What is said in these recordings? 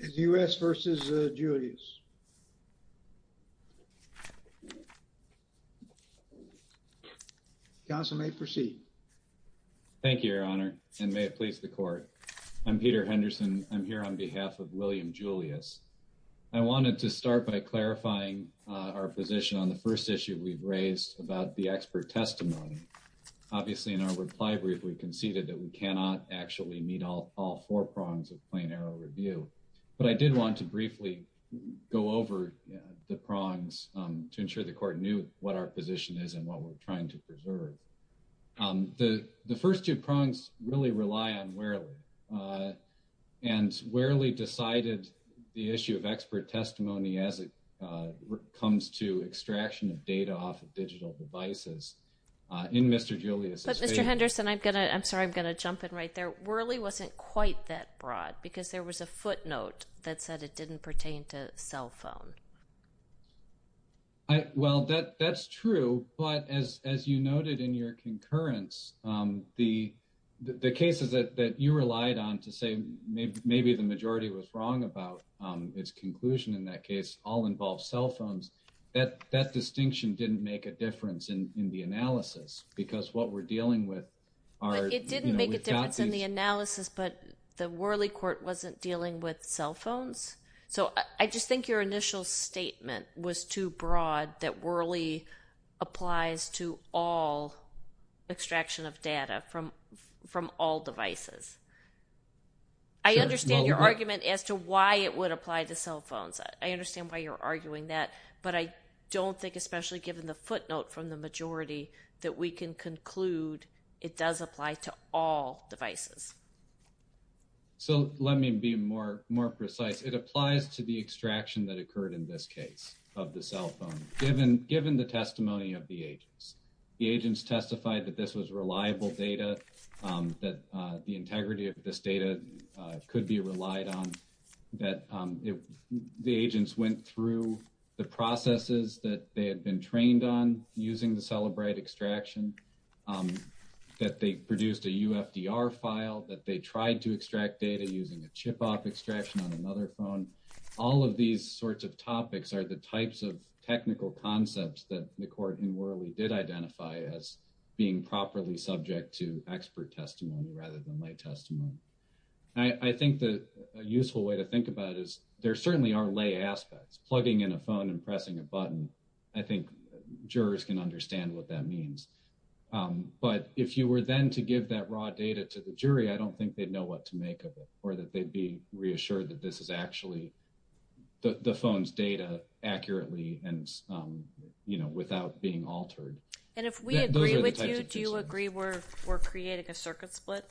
in the U.S. versus Julius. Counsel may proceed. Thank you, your honor, and may it please the court. I'm Peter Henderson. I'm here on behalf of William Julius. I wanted to start by clarifying our position on the first issue we've raised about the expert testimony. Obviously, in our reply brief, we conceded that we cannot actually meet all four prongs of plain error review, but I did want to briefly go over the prongs to ensure the court knew what our position is and what we're trying to preserve. The first two prongs really rely on Wherley, and Wherley decided the issue of expert testimony as it comes to extraction of data off of digital devices. In Mr. Julius's case— I'm sorry, I'm going to jump in right there. Wherley wasn't quite that broad, because there was a footnote that said it didn't pertain to cell phone. Well, that's true, but as you noted in your concurrence, the cases that you relied on to say maybe the majority was wrong about its conclusion in that case all involved cell phones, that distinction didn't make a difference in the analysis, because what we're dealing with are— It didn't make a difference in the analysis, but the Wherley court wasn't dealing with cell phones, so I just think your initial statement was too broad that Wherley applies to all extraction of data from all devices. I understand your argument as to why it would apply to cell phones. I understand why you're arguing that, but I don't think, especially given the footnote from the majority, that we can conclude it does apply to all devices. So, let me be more precise. It applies to the extraction that occurred in this case of the cell phone, given the testimony of the agents. The agents testified that this was reliable data, that the integrity of this data could be relied on, that the agents went through the processes that they had been trained on using the Cellebrite extraction, that they produced a UFDR file, that they tried to extract data using a chip-off extraction on another phone. All of these sorts of topics are the types of technical concepts that the court in Wherley did identify as being properly subject to expert testimony rather than lay testimony. I think the useful way to think about it is there certainly are lay aspects. Plugging in a phone and pressing a button, I think jurors can understand what that means. But if you were then to give that raw data to the jury, I don't think they'd know what to make of it or that they'd be reassured that this is actually the phone's data accurately and without being altered. And if we agree with you, do you agree we're creating a circuit split?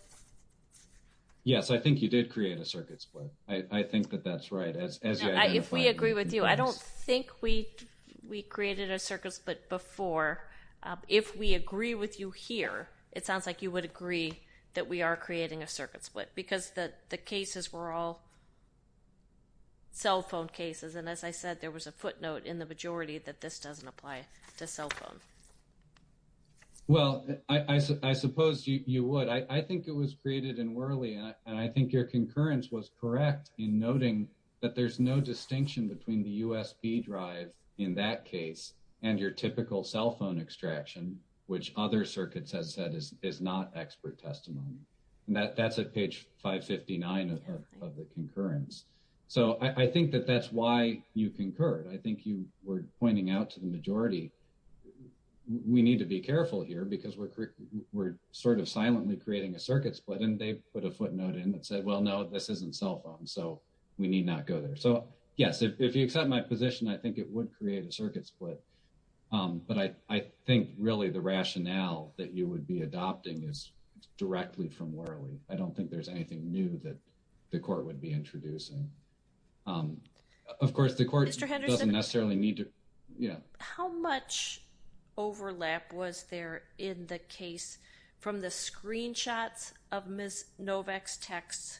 Yes, I think you did create a circuit split. I think that that's right, as you identified. If we agree with you, I don't think we created a circuit split before. If we agree with you here, it sounds like you would agree that we are creating a circuit split because the cases were all cell phone cases. And as I said, there was a footnote in the majority that this doesn't apply to cell phone. Well, I suppose you would. I think it was created in Worley. And I think your concurrence was correct in noting that there's no distinction between the USB drive in that case and your typical cell phone extraction, which other circuits have said is not expert testimony. And that's at page 559 of the concurrence. So I think that that's why you concurred. I think you were pointing out to the majority, we need to be careful here because we're sort of silently creating a circuit split. And they put a footnote in that said, well, no, this isn't cell phone. So we need not go there. So yes, if you accept my position, I think it would create a circuit split. But I think really the rationale that you would be adopting is directly from Worley. I don't think there's anything new that the court would be introducing. Of course, the court doesn't necessarily need to... Mr. Henderson, how much overlap was there in the case from the screenshots of Ms. Novak's texts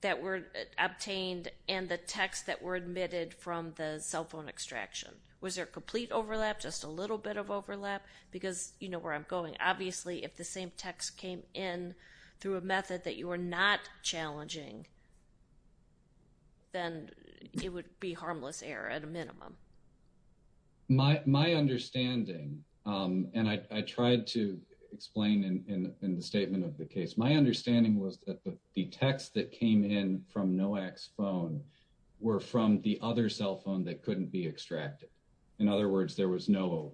that were obtained and the texts that were admitted from the cell phone extraction? Was there complete overlap, just a little bit of overlap? Because you know where I'm going. Obviously, if the same text came in through a method that you were not challenging, then it would be harmless error at a minimum. My understanding, and I tried to explain in the statement of the case, my understanding was that the texts that came in from Novak's phone were from the other cell phone that couldn't be extracted. In other words, there was no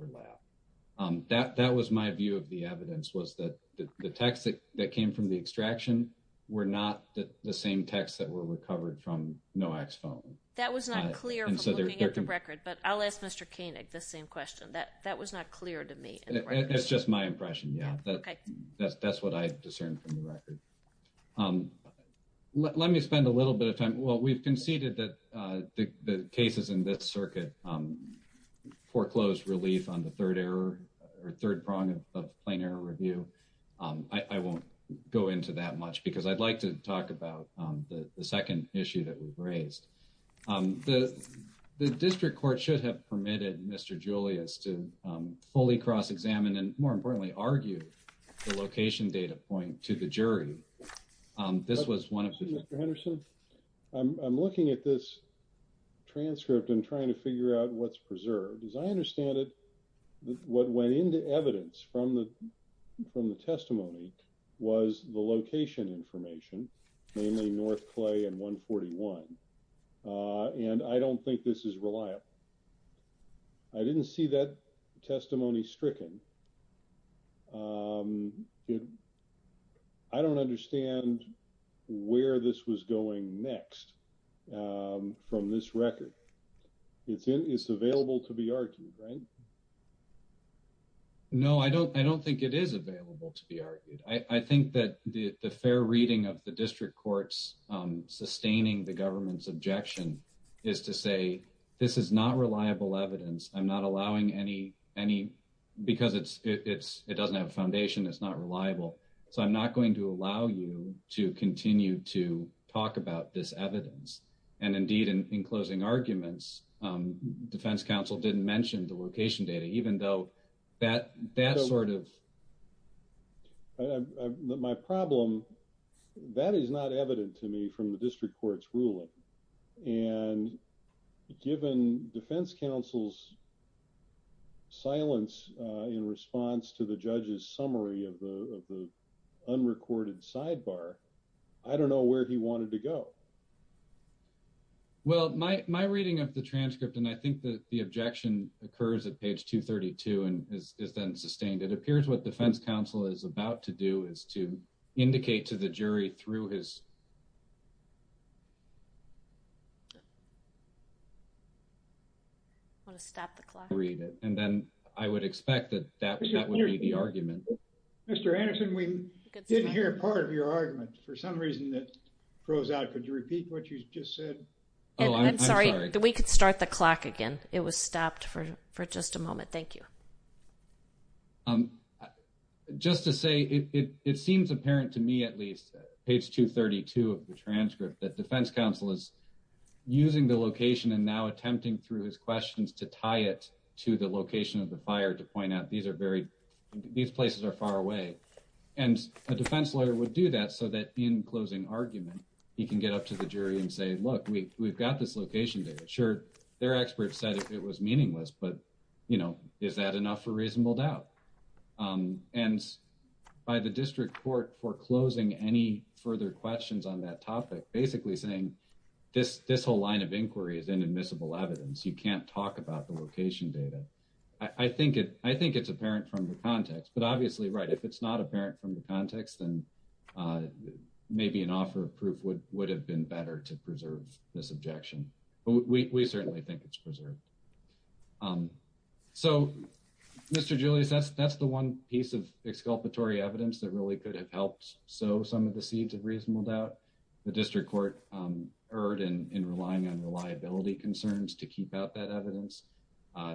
overlap. That was my view of the evidence, was that the texts that came from the extraction were not the same texts that were recovered from Novak's phone. That was not clear from looking at the record, but I'll ask Mr. Koenig the same question. That was not clear to me. It's just my impression, yeah. That's what I discerned from the record. Let me spend a little bit of time... Well, we've conceded that the cases in this circuit are not the same. I'm not going to go into that much because I'd like to talk about the second issue that we've raised. The district court should have permitted Mr. Julius to fully cross-examine and, more importantly, argue the location data point to the jury. This was one of... Mr. Henderson, I'm looking at this transcript and trying to figure out what's preserved. As I understand it, what went into evidence from the testimony was the location information, namely North Clay and 141, and I don't think this is reliable. I didn't see that in the record. I don't understand where this was going next from this record. It's available to be argued, right? No, I don't think it is available to be argued. I think that the fair reading of the district court's sustaining the government's objection is to say this is not reliable evidence. I'm not allowing any because it doesn't have a foundation. It's not reliable, so I'm not going to allow you to continue to talk about this evidence. Indeed, in closing arguments, defense counsel didn't mention the location data even though that sort of... My problem, that is not evident to me from the district court's ruling. Given defense counsel's silence in response to the judge's summary of the unrecorded sidebar, I don't know where he wanted to go. Well, my reading of the transcript and I think that the objection occurs at page 232 and is then sustained. It appears what defense counsel is about to do is to indicate to the jury through his... I want to stop the clock. And then I would expect that that would be the argument. Mr. Anderson, we didn't hear part of your argument. For some reason, it froze out. Could you repeat what you just said? Oh, I'm sorry. We could start the clock again. It was stopped for just a moment. Thank you. Okay. Just to say, it seems apparent to me at least, page 232 of the transcript, that defense counsel is using the location and now attempting through his questions to tie it to the location of the fire to point out these places are far away. And a defense lawyer would do that so that in closing argument, he can get up to the jury and say, look, we've got this location data. Sure, their experts said it was meaningless, but is that enough for reasonable doubt? And by the district court foreclosing any further questions on that topic, basically saying, this whole line of inquiry is inadmissible evidence. You can't talk about the location data. I think it's apparent from the context, but obviously, right, if it's not apparent from the context, then maybe an offer of proof would have been better to preserve this objection. But we certainly think it's preserved. So, Mr. Julius, that's the one piece of exculpatory evidence that really could have helped sow some of the seeds of reasonable doubt. The district court erred in relying on reliability concerns to keep out that evidence.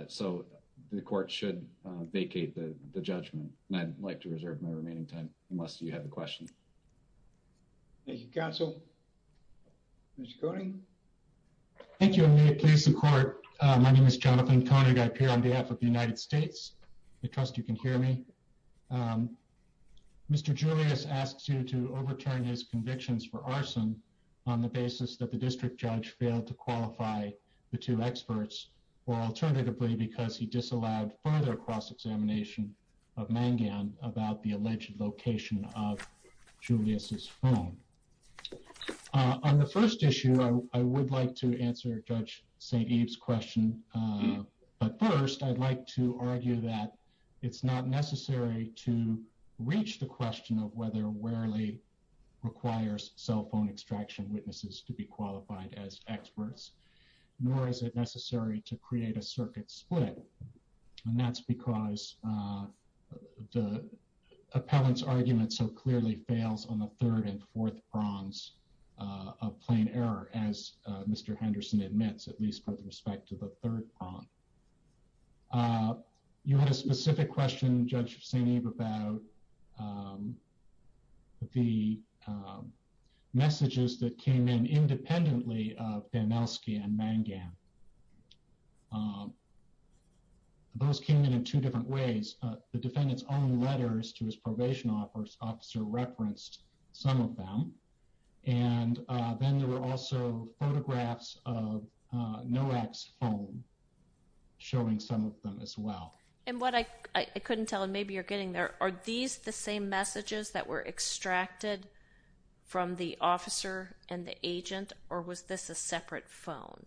So the court should vacate the judgment. And I'd like to reserve my remaining time, unless you have a question. Thank you, counsel. Mr. Koenig. Thank you, and may it please the court. My name is Jonathan Koenig. I appear on behalf of the United States. I trust you can hear me. Mr. Julius asks you to overturn his convictions for arson on the basis that the district judge failed to qualify the two experts or alternatively, because he disallowed further cross-examination of Mangan about the alleged location of Julius's phone. On the first issue, I would like to answer Judge St. Eve's question. But first, I'd like to argue that it's not necessary to reach the question of whether Wherley requires cell phone extraction witnesses to be qualified as experts, nor is it necessary to create a circuit split. And that's because the appellant's argument so clearly fails on the third and fourth prongs of plain error, as Mr. Henderson admits, at least with respect to the third prong. You had a specific question, Judge St. Eve, about the messages that came in independently of Banelski and Mangan. Those came in in two different ways. The defendant's own letters to his probation officer referenced some of them, and then there were also photographs of NOAC's phone showing some of them as well. And what I couldn't tell, and maybe you're getting there, are these the same messages that were extracted from the officer and the agent, or was this a separate phone?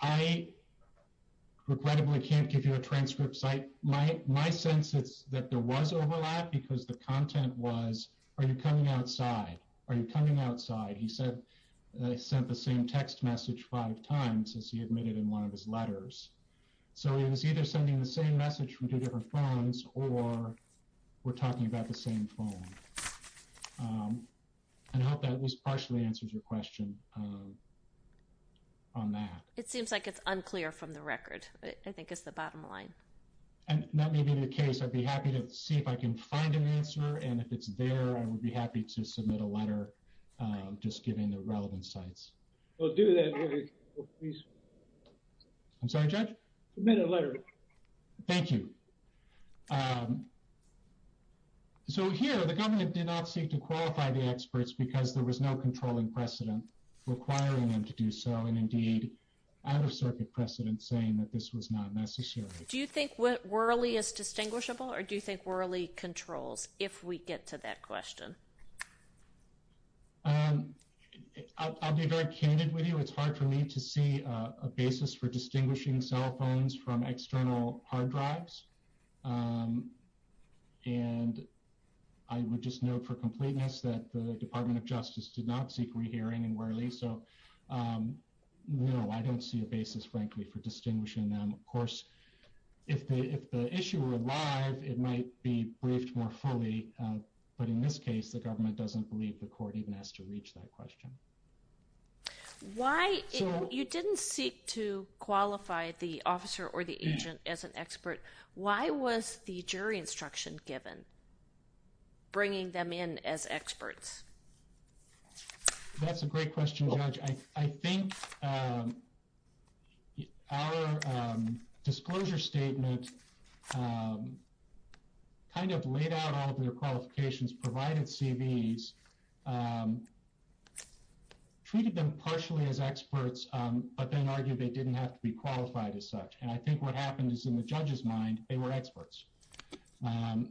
I regrettably can't give you a transcript. My sense is that there was overlap because the content was, are you coming outside? Are you coming outside? He said they sent the same text message five times, as he admitted in one of his letters. So it was either sending the same message from two different phones, or we're talking about the same phone. And I hope that at least partially answers your question on that. It seems like it's unclear from the record, but I think it's the bottom line. And that may be the case. I'd be happy to see if I can find an answer, and if it's there, I would be happy to submit a letter just giving the relevant sites. We'll do that. I'm sorry, Judge? Submit a letter. Thank you. So here, the government did not seek to qualify the experts because there was no controlling precedent requiring them to do so, and indeed out-of-circuit precedent saying that this was not necessary. Do you think Worley is distinguishable, or do you think Worley controls, if we get to that question? I'll be very candid with you. It's hard for me to see a basis for distinguishing cell phones from external hard drives. And I would just note for completeness that the Department of Justice did not seek re-hearing in Worley. So no, I don't see a basis, frankly, for distinguishing them. Of course, if the issue were alive, it might be briefed more fully, but in this case, the government doesn't believe the court even has to reach that question. You didn't seek to qualify the officer or the agent as an expert. Why was the jury instruction given, bringing them in as experts? That's a great question, Judge. I think our disclosure statement kind of laid out all of their qualifications, provided CVs, treated them partially as experts, but then argued they didn't have to be qualified as such. And I think what happened is in the judge's mind, they were experts.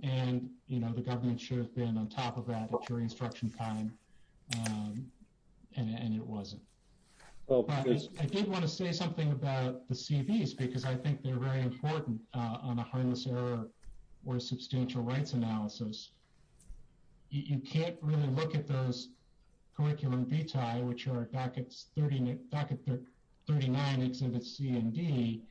And, you know, the government should have been on top of that at jury instruction time. And it wasn't. I did want to say something about the CVs because I think they're very important on a harmless error or a substantial rights analysis. You can't really look at those curriculum vitae, which are docket 39 exhibits C and D.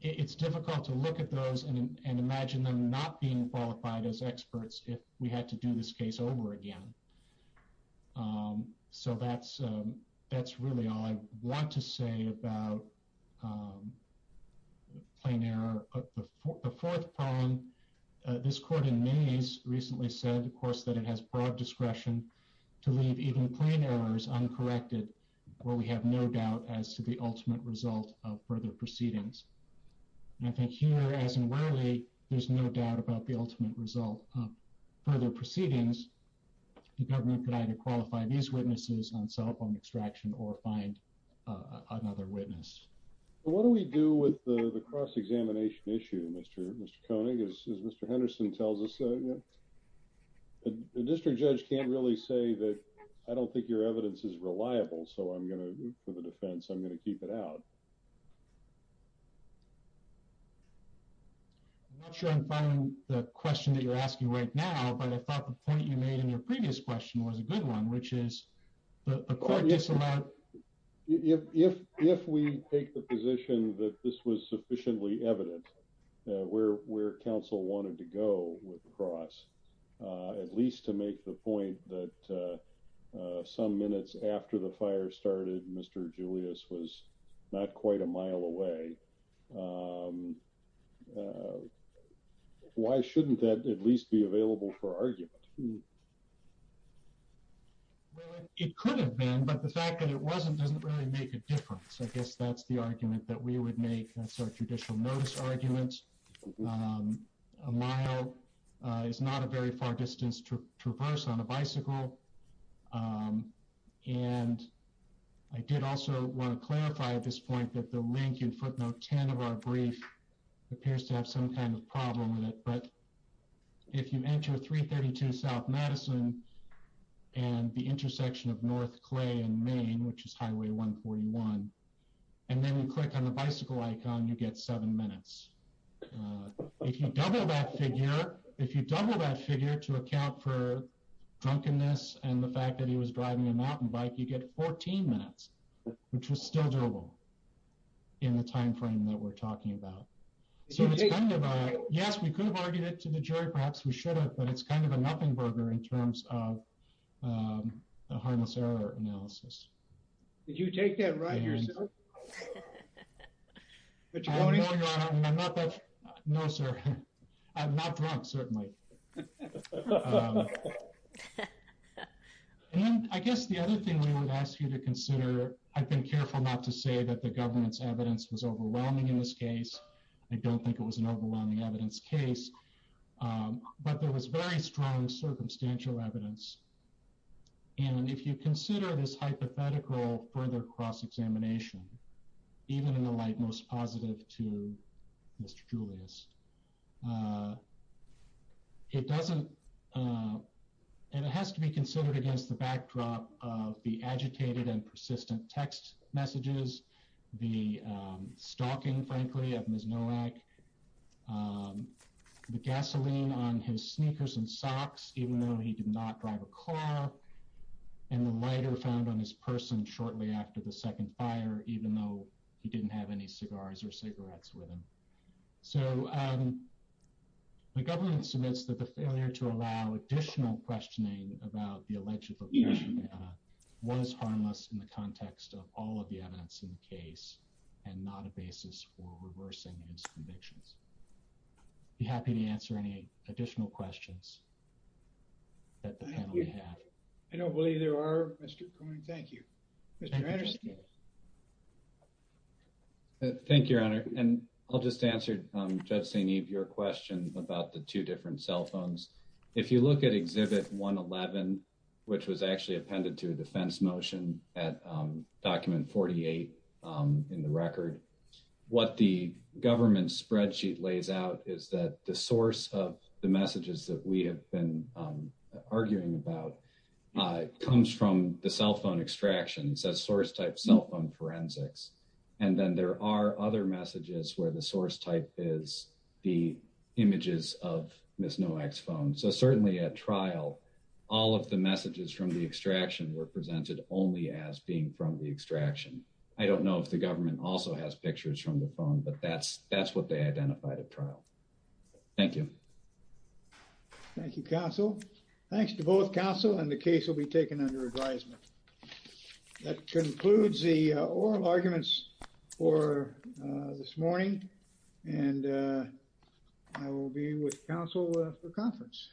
It's difficult to look at those and imagine them not being qualified as experts if we had to do this case over again. So that's really all I want to say about plain error. The fourth problem, this court in Maines recently said, of course, that it has broad discretion to leave even plain errors uncorrected where we have no doubt as to the ultimate result of further proceedings. And I think here, as in Whaley, there's no doubt about the ultimate result of further proceedings. The government could either qualify these witnesses on cell phone extraction or find another witness. What do we do with the cross-examination issue, Mr. Koenig, as Mr. Henderson tells us? The district judge can't really say that I don't think your evidence is reliable, so for the defense, I'm going to keep it out. I'm not sure I'm finding the question that you're asking right now, but I thought the point you made in your previous question was a good one, which is the court disallowed... If we take the position that this was sufficiently evident where Council wanted to go with the cross, at least to make the point that some minutes after the fire started, Mr. Julius was not quite a mile away, why shouldn't that at least be available for argument? Well, it could have been, but the fact that it wasn't doesn't really make a difference. I guess that's the argument that we would make. That's our judicial notice argument. A mile is not a very far distance to traverse on a bicycle, and I did also want to clarify at this point that the link in footnote 10 of our brief appears to have some kind of problem with it, but if you enter 332 South Madison and the intersection of North Clay and Main, which is 141, and then you click on the bicycle icon, you get seven minutes. If you double that figure, if you double that figure to account for drunkenness and the fact that he was driving a mountain bike, you get 14 minutes, which was still doable in the time frame that we're talking about. Yes, we could have argued it to the jury, perhaps we should have, but it's kind of a analysis. Did you take that ride yourself? No, sir. I'm not drunk, certainly. I guess the other thing we would ask you to consider, I've been careful not to say that the government's evidence was overwhelming in this case. I don't think it was an overwhelming evidence case, but there was very strong circumstantial evidence, and if you consider this hypothetical further cross-examination, even in the light most positive to Mr. Julius, it doesn't, and it has to be considered against the backdrop of the agitated and persistent text messages, the stalking, frankly, of Ms. Nowak, the gasoline on his sneakers and socks, even though he did not drive a car, and the lighter found on his person shortly after the second fire, even though he didn't have any cigars or cigarettes with him. So, the government submits that the failure to allow additional questioning about the alleged location was harmless in the context of all of the evidence in the case and not a basis for reversing his convictions. I'd be happy to answer any additional questions that the panel may have. I don't believe there are, Mr. Coyne. Thank you. Mr. Anderson. Thank you, Your Honor, and I'll just answer Judge St. Eve, your question about the two different cell phones. If you look at Exhibit 111, which was actually appended to a defense motion at Document 48 in the record, what the government spreadsheet lays out is that the source of the messages that we have been arguing about comes from the cell phone extraction. It says source type cell phone forensics, and then there are other messages where the source type is the images of Ms. Nowak's phone. So, certainly at trial, all of the messages from the extraction were presented only as being from the extraction. I don't know if the government also has pictures from the phone, but that's what they identified at trial. Thank you. Thank you, counsel. Thanks to both counsel, and the case will be taken under advisement. That concludes the oral arguments for this morning, and I will be with counsel for conference.